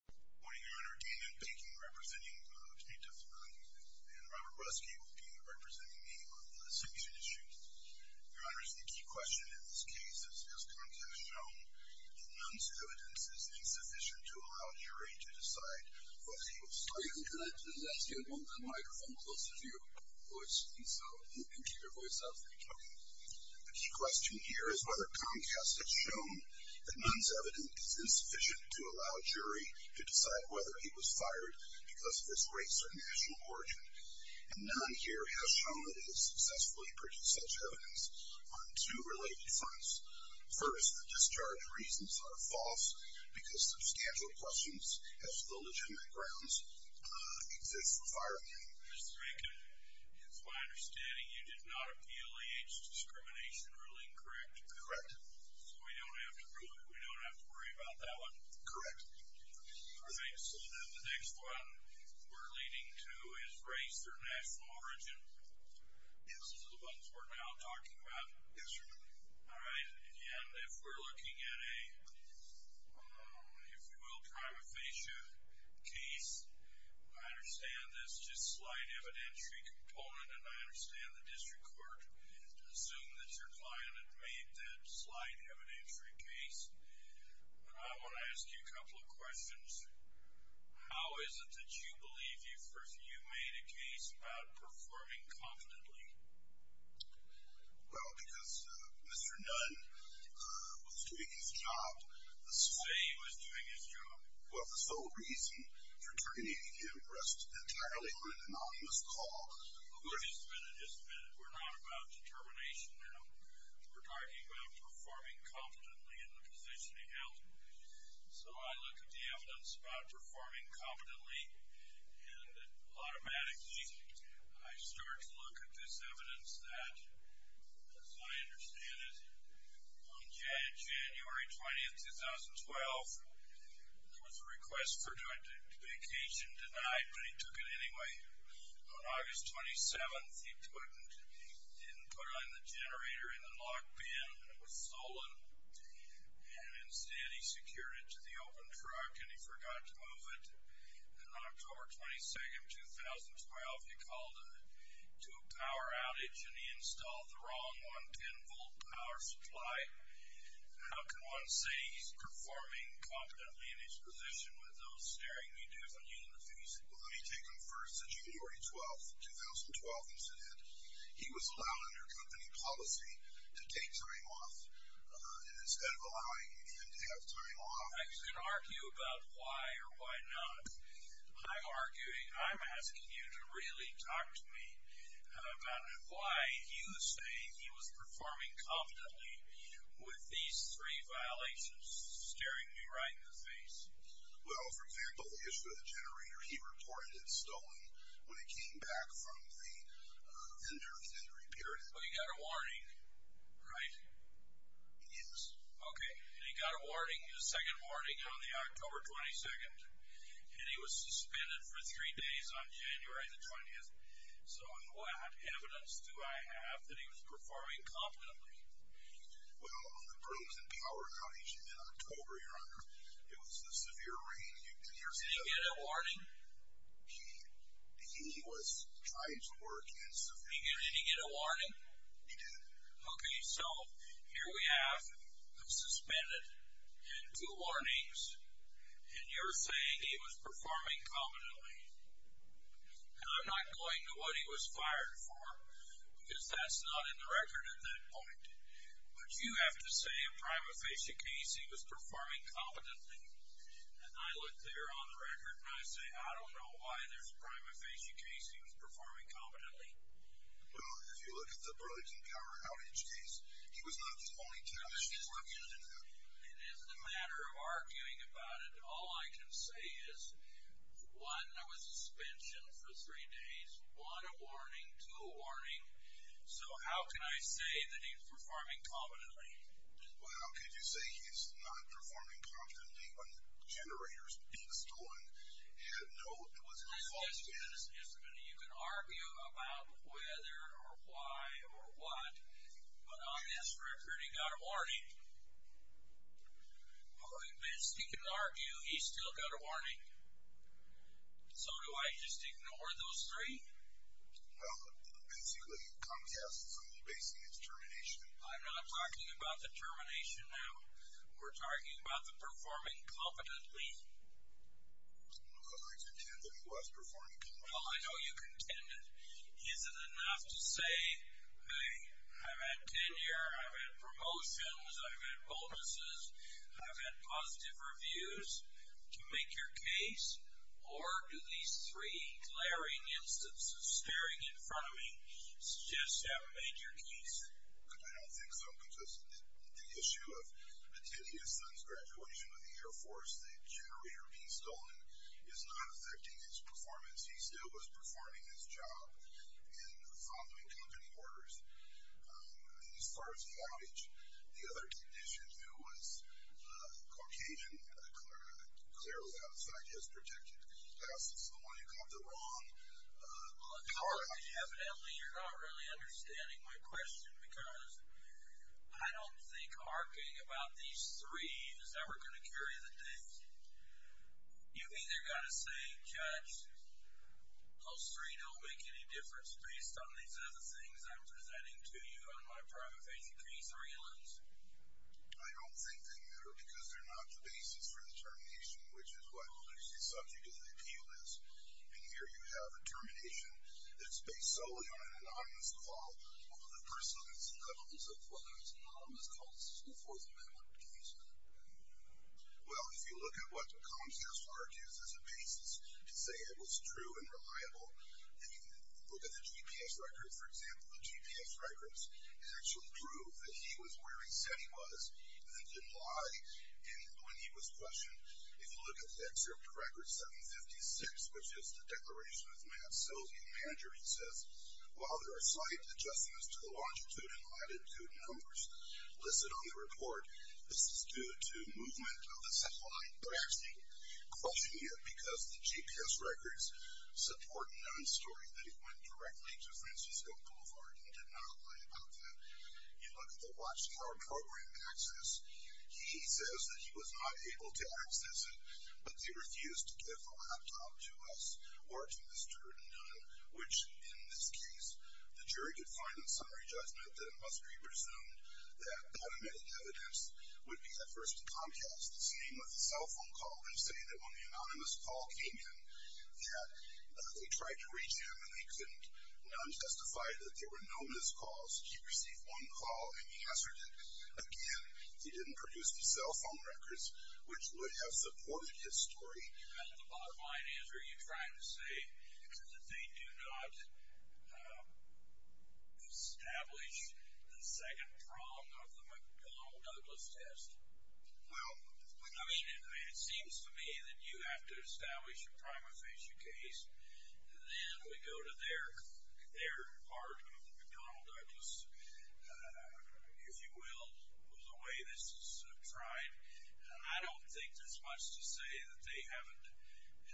Good morning, Your Honor. Damon Baking, representing the plaintiff's family, and Robert Ruskey will be representing me on this issue. Your Honor, the key question in this case is, has Comcast shown that Nunn's evidence is insufficient to allow a jury to decide what he will say? I'm going to ask you to hold the microphone closer to your voice, and so you can keep your voice up. The key question here is whether Comcast has shown that Nunn's evidence is insufficient to allow a jury to decide whether he was fired because of his race or national origin. And Nunn here has shown that he has successfully produced such evidence on two related fronts. First, the discharge reasons are false because substantial questions as to the legitimate grounds exist for firing him. Mr. Bacon, it's my understanding you did not appeal age discrimination ruling, correct? Correct. So we don't have to worry about that one? Correct. All right, so then the next one we're leading to is race or national origin. Yes. Those are the ones we're now talking about? Yes, Your Honor. All right, again, if we're looking at a, if you will, prima facie case, I understand there's just slight evidentiary component, and I understand the district court assumed that your client had made that slight evidentiary case. But I want to ask you a couple of questions. How is it that you believe you made a case about performing confidently? Well, because Mr. Nunn was doing his job. The way he was doing his job? Well, the sole reason for terminating him rests entirely on an anonymous call. Well, just a minute, just a minute. We're not about determination now. We're talking about performing confidently in the position he held. So I look at the evidence about performing confidently, and automatically I start to look at this evidence that, as I understand it, on January 20, 2012, there was a request for vacation denied, but he took it anyway. On August 27, he didn't put on the generator in the lock bin, and it was stolen, and instead he secured it to the open truck, and he forgot to move it. And on October 22, 2012, he called to a power outage, and he installed the wrong 110-volt power supply. How can one say he's performing confidently in his position with those staring me doofeny in the face? Well, let me take them first to January 12, 2012 incident. He was allowed under company policy to take time off, and instead of allowing him even to have time off... I can argue about why or why not. I'm arguing, I'm asking you to really talk to me about why he was saying he was performing confidently with these three violations staring me right in the face. Well, for example, the issue of the generator. He reported it stolen when it came back from the, uh, inventory period. Well, he got a warning, right? Yes. Okay, and he got a warning. His second warning on the October 22nd, and he was suspended for three days on January the 20th. So in what evidence do I have that he was performing confidently? Well, on the bruising power outage in October, Your Honor, it was the severe rain. Did he get a warning? He was trying to work in severe... Did he get a warning? He did. Okay, so here we have him suspended and two warnings, and you're saying he was performing confidently. And I'm not going to what he was fired for, because that's not in the record at that point. But you have to say a prima facie case he was performing competently. And I look there on the record and I say, I don't know why there's a prima facie case he was performing competently. Well, if you look at the bruising power outage case, he was not the only time he was using that. It is a matter of arguing about it. All I can say is, one, there was a suspension for three days, one a warning, two a warning. So how can I say that he's performing competently? Well, how can you say he's not performing competently when the generator's been stolen? He had no, it was no fault of his. You can argue about whether or why or what, but on this record he got a warning. Well, at least he can argue he's still got a warning. So do I just ignore those three? Well, basically, Comcast is only basing its termination. I'm not talking about the termination now. We're talking about the performing competently. Well, I contend that he was performing competently. Well, I know you contend it. Is it enough to say, hey, I've had tenure, I've had promotions, I've had bonuses, I've had positive reviews to make your case? Or do these three glaring instances staring in front of me suggest you haven't made your case? I don't think so, Comcast. The issue of attending his son's graduation with the Air Force, the generator being stolen, is not affecting his performance. He still was performing his job in following company orders. As far as the outage, the other technician who was Caucasian, clearly outside his protected class, is the one who got the wrong power outage. Well, apparently you're not really understanding my question because I don't think arcing about these three is ever going to carry the case. You've either got to say, Judge, those three don't make any difference based on these other things I'm presenting to you on my private facing case or your list. I don't think they matter because they're not the basis for the termination, which is what the subject of the appeal is. And here you have a termination that's based solely on an anonymous call over the person's levels of whether it's an anonymous call to the Fourth Amendment case. Well, if you look at what Comcast argues as a basis to say it was true and reliable, and you look at the GPS records, for example, the GPS records, it actually proved that he was where he said he was and didn't lie. And when he was questioned, if you look at the excerpt of record 756, which is the declaration of Matt Silvey, the manager, he says, while there are slight adjustments to the longitude and latitude numbers listed on the report, this is due to movement of the satellite. Perhaps he questioned it because the GPS records support Nunn's story, that he went directly to Francisco Boulevard and did not lie about that. You look at the Watchtower program access. He says that he was not able to access it, but they refused to give the laptop to us or to Mr. Nunn, which, in this case, the jury could find in summary judgment that it must be presumed that unadmitted evidence would be the first in Comcast's name of the cell phone call and say that when the anonymous call came in that they tried to reach him and they couldn't. Nunn testified that there were no missed calls. He received one call, and he answered it again. He didn't produce the cell phone records, which would have supported his story. Well, the bottom line is, are you trying to say, that they do not establish the second prong of the McDonnell-Douglas test? Well, I mean, it seems to me that you have to establish a prima facie case, then we go to their part of the McDonnell-Douglas, if you will, the way this is tried. I don't think there's much to say that they haven't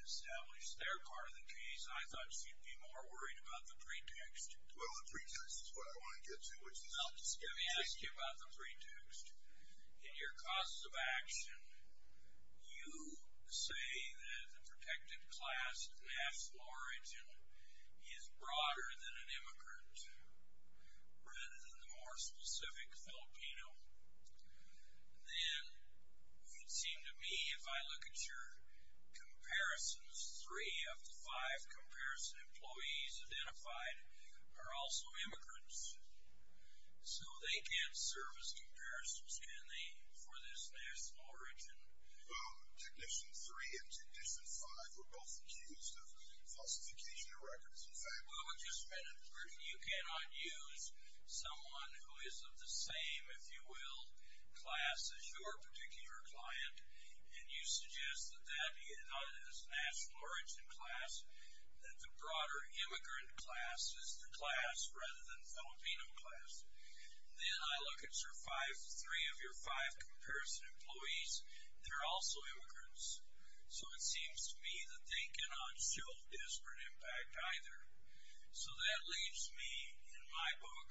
established their part of the case. I thought you'd be more worried about the pretext. Well, the pretext is what I want to get to. Well, let me ask you about the pretext. In your cause of action, you say that the protected class and national origin is broader than an immigrant rather than the more specific Filipino. Then it would seem to me, if I look at your comparisons, three of the five comparison employees identified are also immigrants, so they can't serve as comparisons, can they, for this national origin? Technician 3 and Technician 5 were both accused of falsification of records. You cannot use someone who is of the same, if you will, class as your particular client, and you suggest that that be a national origin class, that the broader immigrant class is the class rather than Filipino class. Then I look at your three of your five comparison employees. They're also immigrants. So it seems to me that they cannot show disparate impact either. So that leaves me, in my book,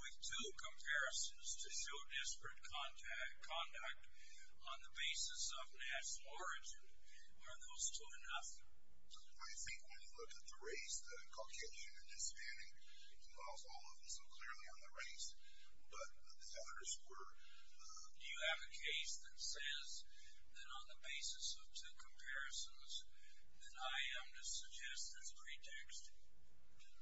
with two comparisons to show disparate conduct on the basis of national origin. Are those two enough? I think when you look at the race, the Caucasian and Hispanic involve all of them so clearly on the race, but the others were... Do you have a case that says that on the basis of two comparisons, that I am to suggest that's pretexting?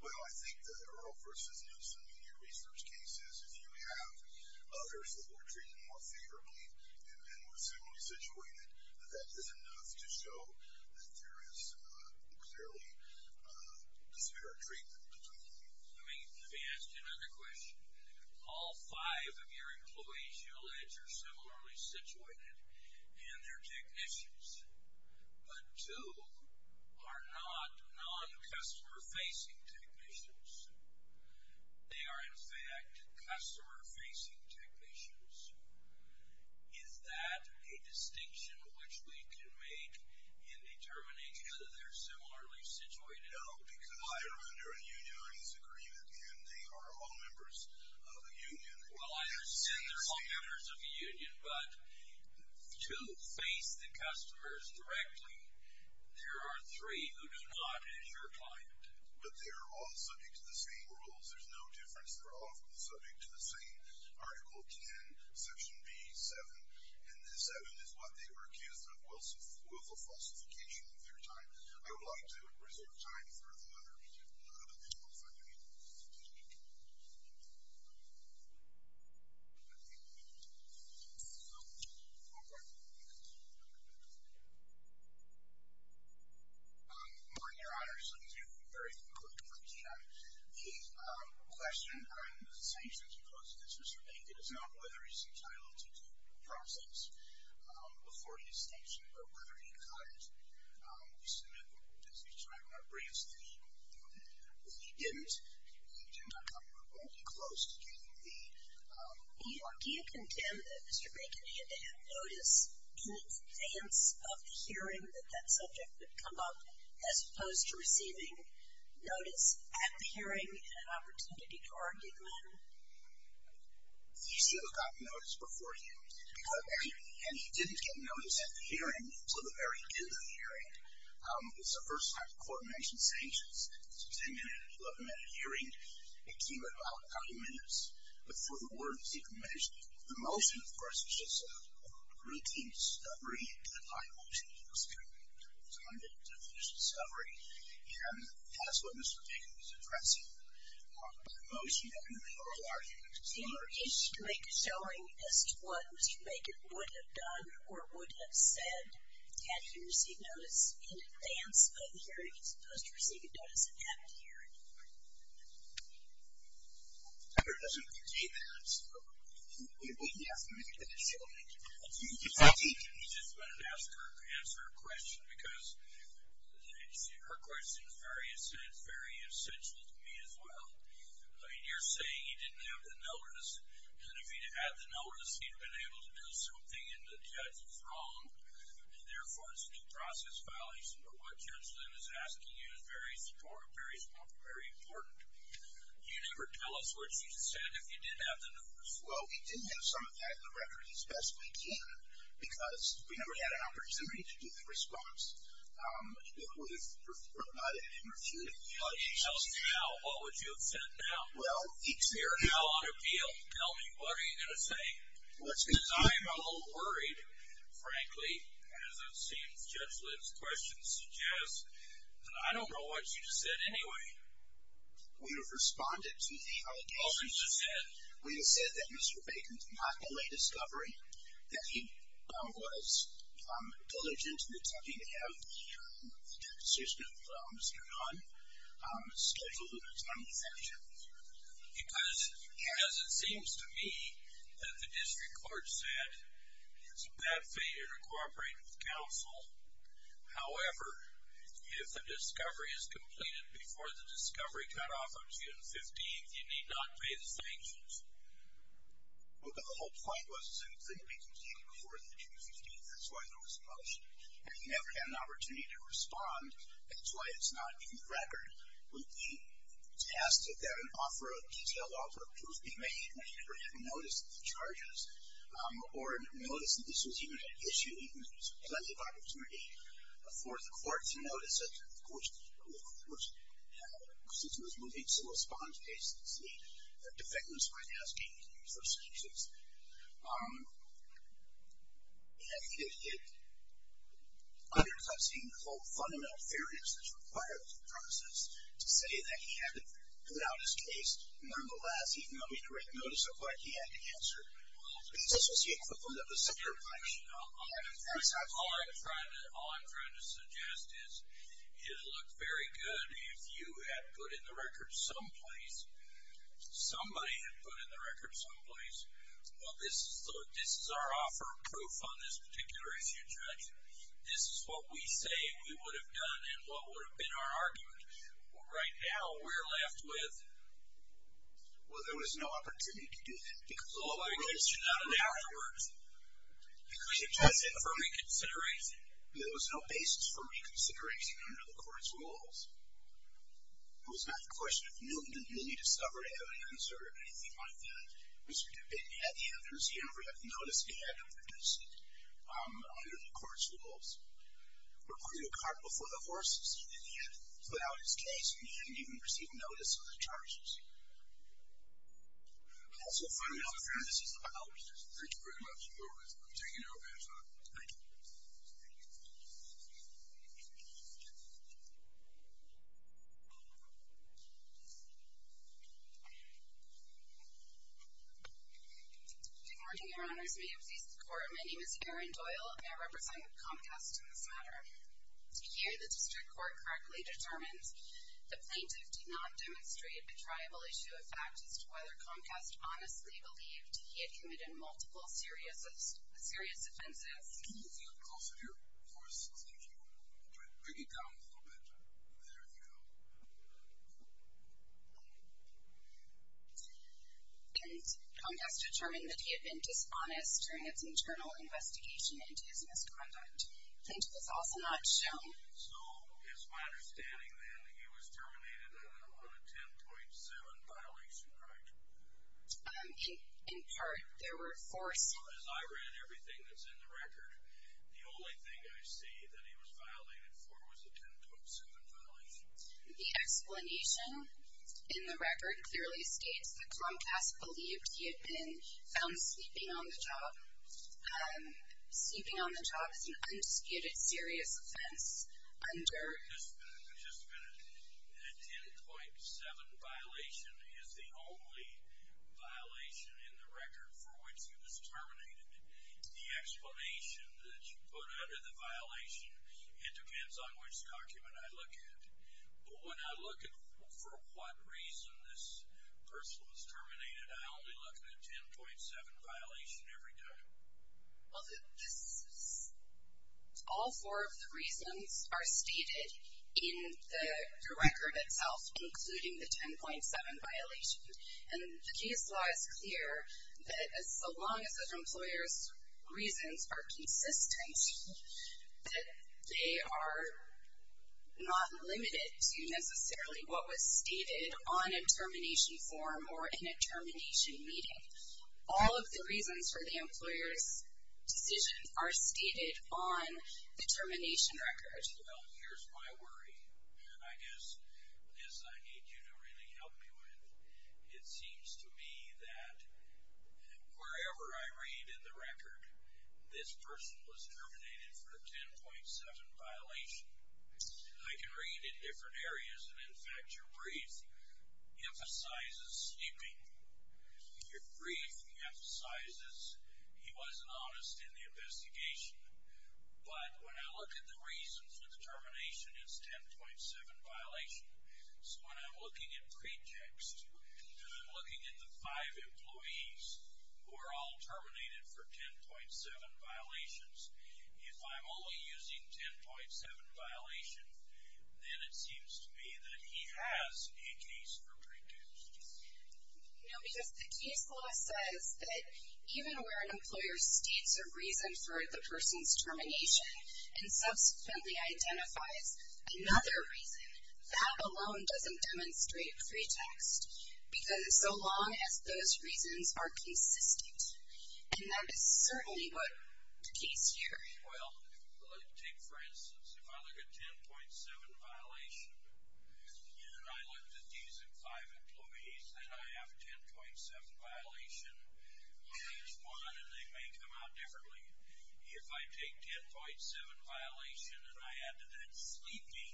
Well, I think that there are, versus most immediate research cases, if you have others that were treated more favorably and were similarly situated, that that is enough to show that there is clearly disparate treatment between them. Let me ask you another question. All five of your employees, you allege, are similarly situated, and they're technicians, but two are not non-customer-facing technicians. They are, in fact, customer-facing technicians. Is that a distinction which we can make in determining whether they're similarly situated or not? Well, I understand they're all members of a union, but to face the customers directly, there are three who do not have your client. But they're all subject to the same rules. There's no difference. They're all subject to the same Article 10, Section B, 7, and the 7 is what they were accused of with the falsification of their time. I would like to reserve time for the other individual fundamentals. Martin, Your Honors, thank you very much for the keynote. The question on the sanctions imposed against Mr. Bainton is not whether he's entitled to due process before his sanction, but whether he got it as he was trying to bring us to the table. He didn't. He did not come remotely close to getting the award. Do you condemn that Mr. Bainton had to have notice in advance of the hearing that that subject would come up, as opposed to receiving notice at the hearing and an opportunity to argue then? He still got notice before hearing, and he didn't get notice at the hearing until the very end of the hearing. It's the first time the Court mentioned sanctions. Mr. Bainton had an 11-minute hearing. It came about a couple of minutes before the award was even mentioned. The motion, of course, is just a routine discovery. It's not a motion. It's a scrutiny. It's not an official discovery. And that's what Mr. Bainton was addressing, the motion and the oral argument. Do you wish to make a showing as to what Mr. Bainton would have done or would have said had he received notice in advance of the hearing, as opposed to receiving notice at the hearing? I don't think he did. I don't think he did. I just wanted to ask her a question because her question is very essential to me as well. You're saying he didn't have the notice, and if he had the notice he would have been able to do something and the judge was wrong, and therefore it's a due process violation. But what Judge Lynn is asking you is very important. Do you ever tell us what you said if you did have the notice? Well, we did have some of that in the record as best we can because we never had an opportunity to do the response. Well, he tells me now. What would you have said now? Well, he's here now on appeal. Tell me, what are you going to say? Because I'm a little worried, frankly, as it seems Judge Lynn's questions suggest, and I don't know what you just said anyway. We have responded to the allegations. What did you just say? We have said that Mr. Bainton did not delay discovery, that he was diligent in attempting to have the deposition of Mr. Gunn scheduled at a time of sanction. Because as it seems to me that the district court said, it's a bad fate to cooperate with counsel. However, if the discovery is completed before the discovery cutoff of June 15th, you need not pay the sanctions. Well, but the whole point was that it couldn't be completed before the June 15th. That's why there was a motion. And we never had an opportunity to respond. That's why it's not in the record. When we tested that an offer of detailed altercations be made, we never had a notice of the charges or notice that this was even an issue, even if there was plenty of opportunity for the court to notice it. Of course, since it was moving to a response case, it's the defendant's right asking for sanctions. It undercuts the whole fundamental fairness that's required of the process to say that he had to put out his case. Nonetheless, he can only direct notice of what he had to answer. This was the equivalent of a secure connection. All I'm trying to suggest is it would have looked very good if you had put in the record someplace, somebody had put in the record someplace, well, this is our offer of proof on this particular issue, Judge. This is what we say we would have done and what would have been our argument. Well, right now, we're left with, well, there was no opportunity to do that. Because all of our evidence turned out in the afterwards. We couldn't test it for reconsideration. There was no basis for reconsideration under the court's rules. It was not the question of Newton didn't really discover evidence or anything like that. Mr. DeBitten had the evidence. He never had the notice that he had to produce it under the court's rules. We're putting a cart before the horses. He didn't have to put out his case and he didn't even receive notice of the charges. And also finally, this is the final decision. Thank you very much. I'm taking it over. Thank you. Good morning, Your Honors. May it please the Court. My name is Erin Doyle, and I represent Comcast in this matter. To hear the district court correctly determines the plaintiff did not demonstrate a triable issue of fact as to whether Comcast honestly believed he had committed multiple serious offenses. And Comcast determined that he had been dishonest during its internal investigation into his misconduct. Plaintiff was also not shown that he was terminated on a 10.7 violation, right? In part, there were four. As I read everything that's in the record, the only thing I see that he was violated for was a 10.7 violation. The explanation in the record clearly states that Comcast believed he had been found sleeping on the job. Sleeping on the job is an undisputed serious offense under Just a minute. A 10.7 violation is the only violation in the record for which he was terminated. The explanation that you put under the violation, it depends on which document I look at. But when I look at for what reason this person was terminated, I only look at a 10.7 violation every time. All four of the reasons are stated in the record itself, including the 10.7 violation. And the case law is clear that as long as the employer's reasons are consistent, that they are not limited to necessarily what was stated on a termination form or in a termination meeting. All of the reasons for the employer's decisions are stated on the termination record. Well, here's my worry. And I guess this I need you to really help me with. It seems to me that wherever I read in the record this person was terminated for a 10.7 violation, I can read in different areas. And in fact, your brief emphasizes sleeping. Your brief emphasizes he wasn't honest in the investigation. But when I look at the reasons for the termination, it's 10.7 violation. So when I'm looking at pretext, I'm looking at the five employees who are all terminated for 10.7 violations. If I'm only using 10.7 violations, then it seems to me that he has a case for pretext. No, because the case law says that even where an employer states a reason for the person's termination and subsequently identifies another reason, that alone doesn't demonstrate pretext, because so long as those reasons are consistent. And that is certainly what the case here. Well, take for instance, if I look at 10.7 violation, and I look at these five employees, then I have 10.7 violation on each one, and they may come out differently. If I take 10.7 violation and I add to that sleeping,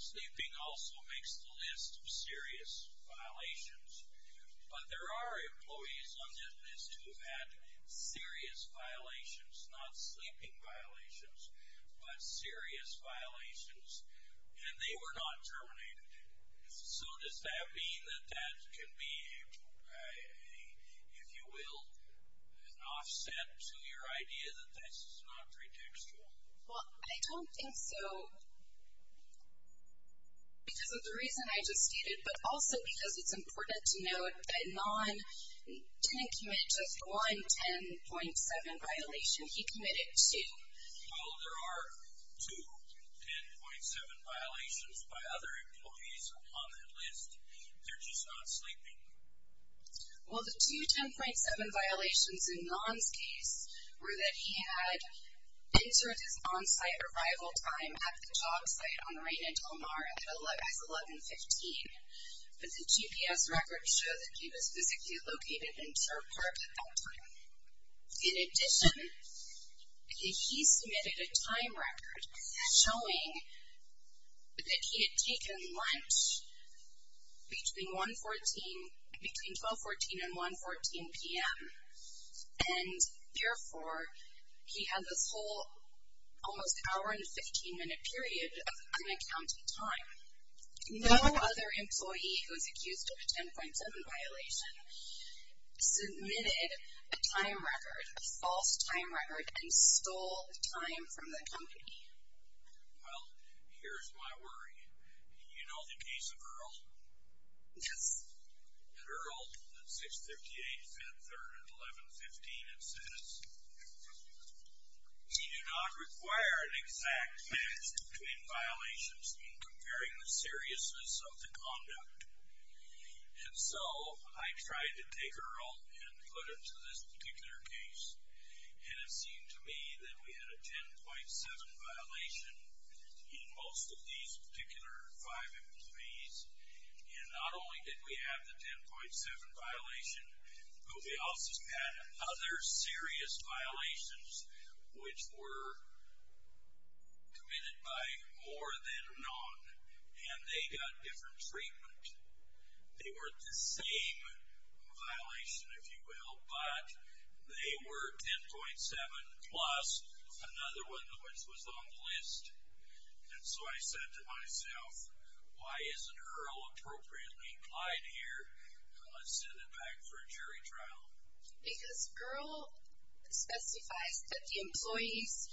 sleeping also makes the list of serious violations. But there are employees on this list who have had serious violations, not sleeping violations, but serious violations. And they were not terminated. So does that mean that that can be, if you will, an offset to your idea that this is not pretextual? Well, I don't think so because of the reason I just stated, but also because it's important to note that Non didn't commit just one 10.7 violation. He committed two. Well, there are two 10.7 violations by other employees on that list. They're just not sleeping. Well, the two 10.7 violations in Non's case were that he had inserted his on-site arrival time at the job site on Raina Del Mar at 11.15, but the GPS records show that he was physically located in Sher Park at that time. In addition, he submitted a time record showing that he had taken lunch between 12.14 and 1.14 p.m. And therefore, he had this whole almost hour and 15-minute period of unaccounted time. No other employee who was accused of a 10.7 violation submitted a time record, a false time record, and stole time from the company. Well, here's my worry. Do you know the case of Earl? Yes. At Earl, at 6.58, 5.03, and 11.15, it says, we do not require an exact match between violations in comparing the seriousness of the conduct. And so I tried to take Earl and put him to this particular case, and it seemed to me that we had a 10.7 violation in most of these particular five employees, and not only did we have the 10.7 violation, but we also had other serious violations which were committed by more than none, and they got different treatment. They weren't the same violation, if you will, but they were 10.7 plus another one which was on the list. And so I said to myself, why isn't Earl appropriately implied here? Let's send him back for a jury trial. Because Earl specifies that the employees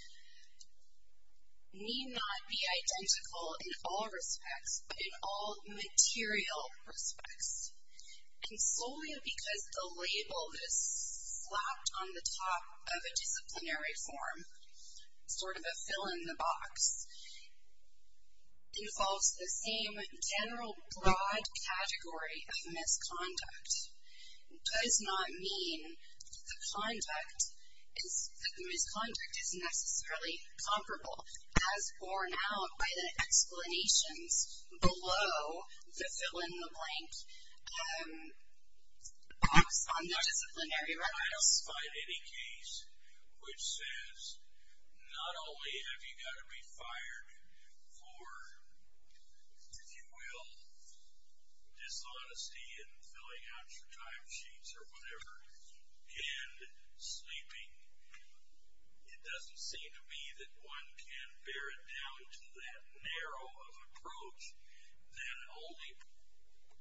need not be identical in all respects, but in all material respects. And solely because the label is slapped on the top of a disciplinary form, sort of a fill-in-the-box, involves the same general broad category of misconduct. It does not mean that the misconduct is necessarily comparable, as borne out by the explanations below the fill-in-the-blank box on the disciplinary record. I just find any case which says not only have you got to be fired for, if you will, dishonesty in filling out your time sheets or whatever, and sleeping, it doesn't seem to me that one can bear it down to that narrow of an approach that only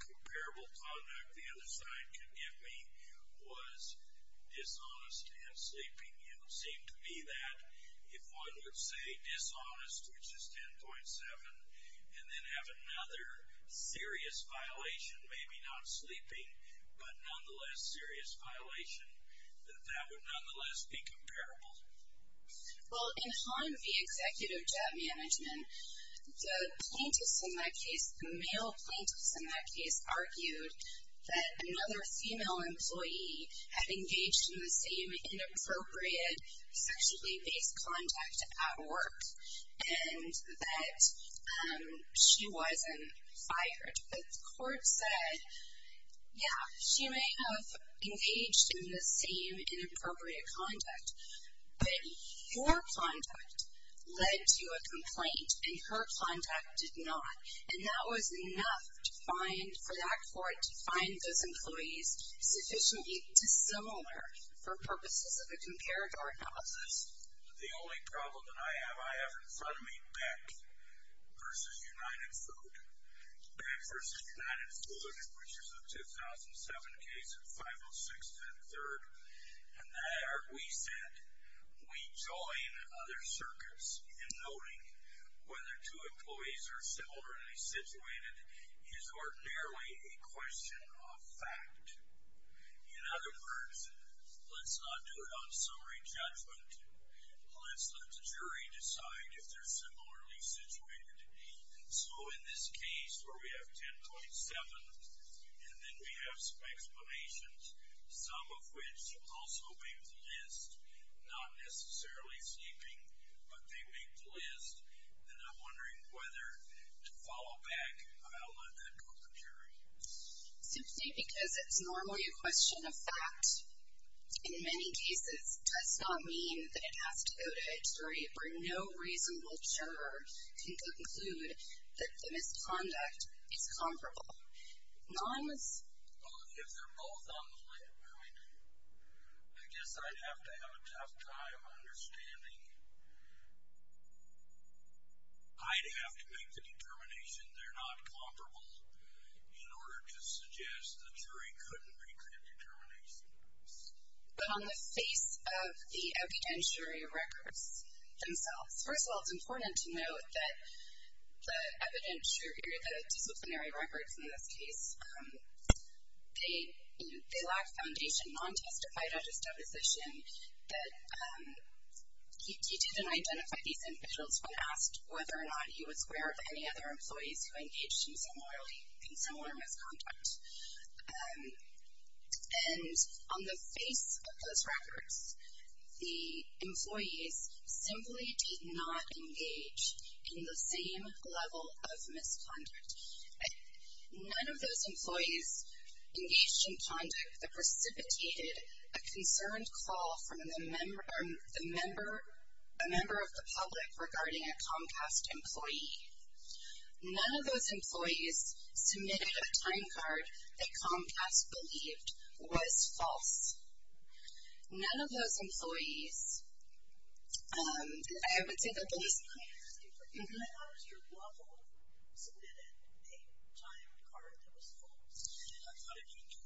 comparable conduct the other side can give me was dishonest and sleeping. It would seem to me that if one would say dishonest, which is 10.7, and then have another serious violation, maybe not sleeping, but nonetheless serious violation, that that would nonetheless be comparable. Well, in Hahn v. Executive Job Management, the plaintiffs in that case, the male plaintiffs in that case, argued that another female employee had engaged in the same inappropriate sexually based contact at work, and that she wasn't fired. The court said, yeah, she may have engaged in the same inappropriate contact, but your contact led to a complaint, and her contact did not. And that was enough for that court to find those employees sufficiently dissimilar for purposes of a comparator analysis. The only problem that I have, I have in front of me Beck v. United Food. Beck v. United Food, which is a 2007 case, 506-103rd, and there we said we join other circuits in noting whether two employees are similarly situated is ordinarily a question of fact. In other words, let's not do it on summary judgment. Let's let the jury decide if they're similarly situated. So in this case where we have 10.7, and then we have some explanations, some of which also make the list, not necessarily sleeping, but they make the list, and I'm wondering whether to follow back, I'll let that go to the jury. Simply because it's normally a question of fact, in many cases, does not mean that it has to go to a jury where no reasonable juror can conclude that the misconduct is comparable. If they're both on the line, I guess I'd have to have a tough time understanding. I'd have to make the determination they're not comparable in order to suggest the jury couldn't make that determination. But on the face of the evident jury records themselves, first of all, it's important to note that the evident jury, the disciplinary records in this case, they lack foundation, non-testified on his deposition, that he didn't identify these individuals when asked whether or not he was aware of any other employees who engaged in similar misconduct. And on the face of those records, the employees simply did not engage in the same level of misconduct. None of those employees engaged in conduct that precipitated a concerned call from a member of the public regarding a Comcast employee. None of those employees submitted a time card that Comcast believed was false. None of those employees. I would say that those. I thought Mr. Lovell submitted a time card that was false.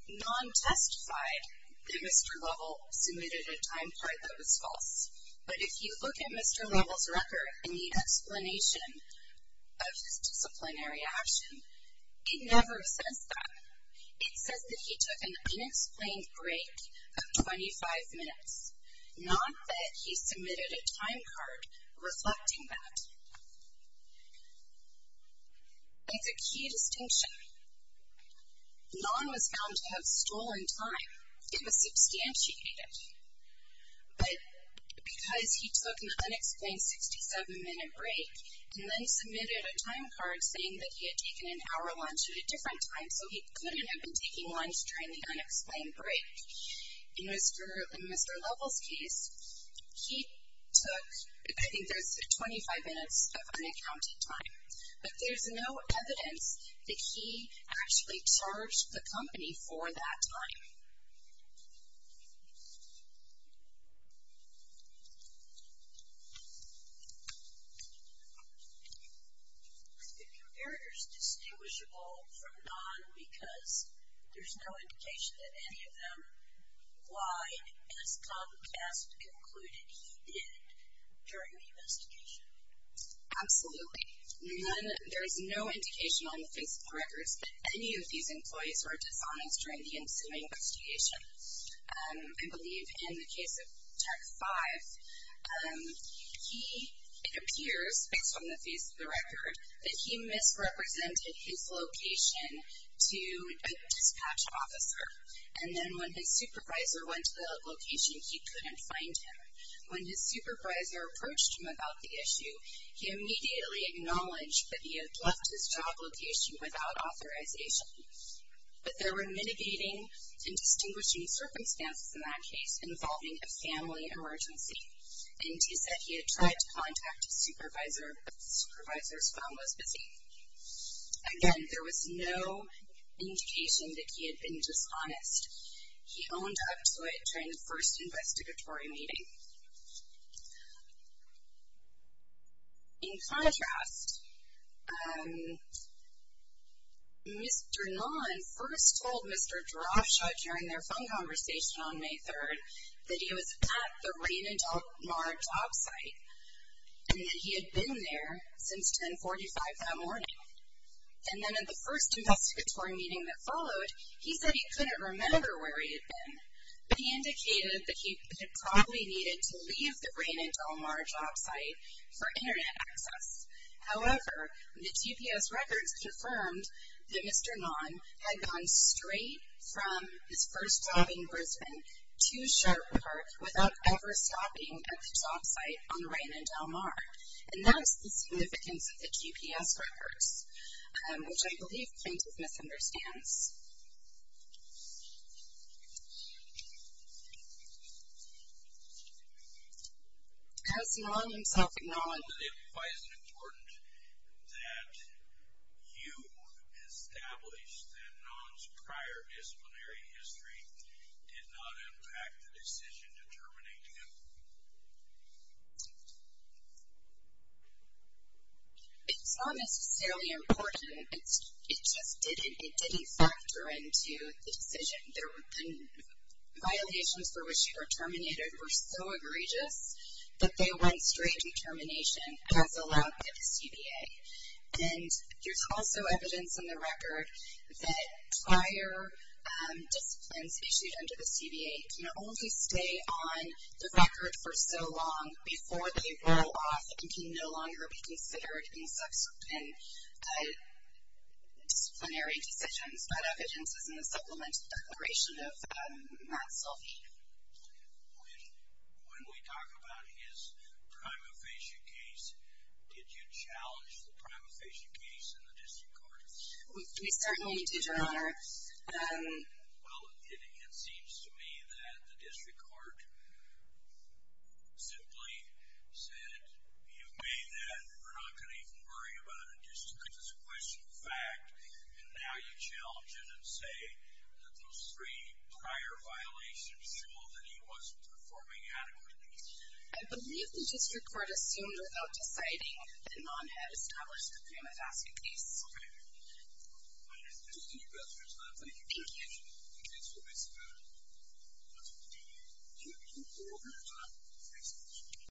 Non-testified that Mr. Lovell submitted a time card that was false. But if you look at Mr. Lovell's record and the explanation of his disciplinary action, it never says that. It says that he took an unexplained break of 25 minutes, not that he submitted a time card reflecting that. It's a key distinction. None was found to have stolen time. It was substantiated. But because he took an unexplained 67-minute break and then submitted a time card saying that he had taken an hour lunch at a different time, so he couldn't have been taking lunch during the unexplained break. In Mr. Lovell's case, he took, I think there's 25 minutes of unaccounted time. But there's no evidence that he actually charged the company for that time. The comparator is distinguishable from non because there's no indication that any of them lied, as Comcast concluded he did during the investigation. Absolutely. There is no indication on the face of the records that any of these employees were dishonest during the ensuing investigation. I believe in the case of Tech 5, it appears, based on the face of the record, that he misrepresented his location to a dispatch officer. And then when his supervisor went to the location, he couldn't find him. When his supervisor approached him about the issue, he immediately acknowledged that he had left his job location without authorization. But there were mitigating and distinguishing circumstances in that case involving a family emergency. And he said he had tried to contact his supervisor, but the supervisor's phone was busy. Again, there was no indication that he had been dishonest. He owned up to it during the first investigatory meeting. In contrast, Mr. Non first told Mr. Draftshot during their phone conversation on May 3rd that he was at the Raina Del Mar job site and that he had been there since 1045 that morning. And then at the first investigatory meeting that followed, he said he couldn't remember where he had been, but he indicated that he probably needed to leave the Raina Del Mar job site for Internet access. However, the GPS records confirmed that Mr. Non had gone straight from his first job in Brisbane to Sharp Park without ever stopping at the job site on Raina Del Mar. And that's the significance of the GPS records, which I believe plaintiff misunderstands. Has Non himself acknowledged that it was important that you establish that Non's prior disciplinary history did not impact the decision to terminate him? It's not necessarily important. It just didn't factor into the decision. The violations for which he was terminated were so egregious that they went straight to termination as allowed by the CBA. And there's also evidence in the record that prior disciplines issued under the CBA can only stay on the record for so long before they roll off and can no longer be considered in disciplinary decisions. That evidence is in the Supplemental Declaration of Matt Selfie. When we talk about his prima facie case, did you challenge the prima facie case in the District Court? We certainly did, Your Honor. Well, it seems to me that the District Court simply said, you've made that, we're not going to even worry about it because it's a questionable fact, and now you challenge it and say that those three prior violations show that he wasn't performing adequately. I believe the District Court assumed without deciding that Non had established the prima facie case.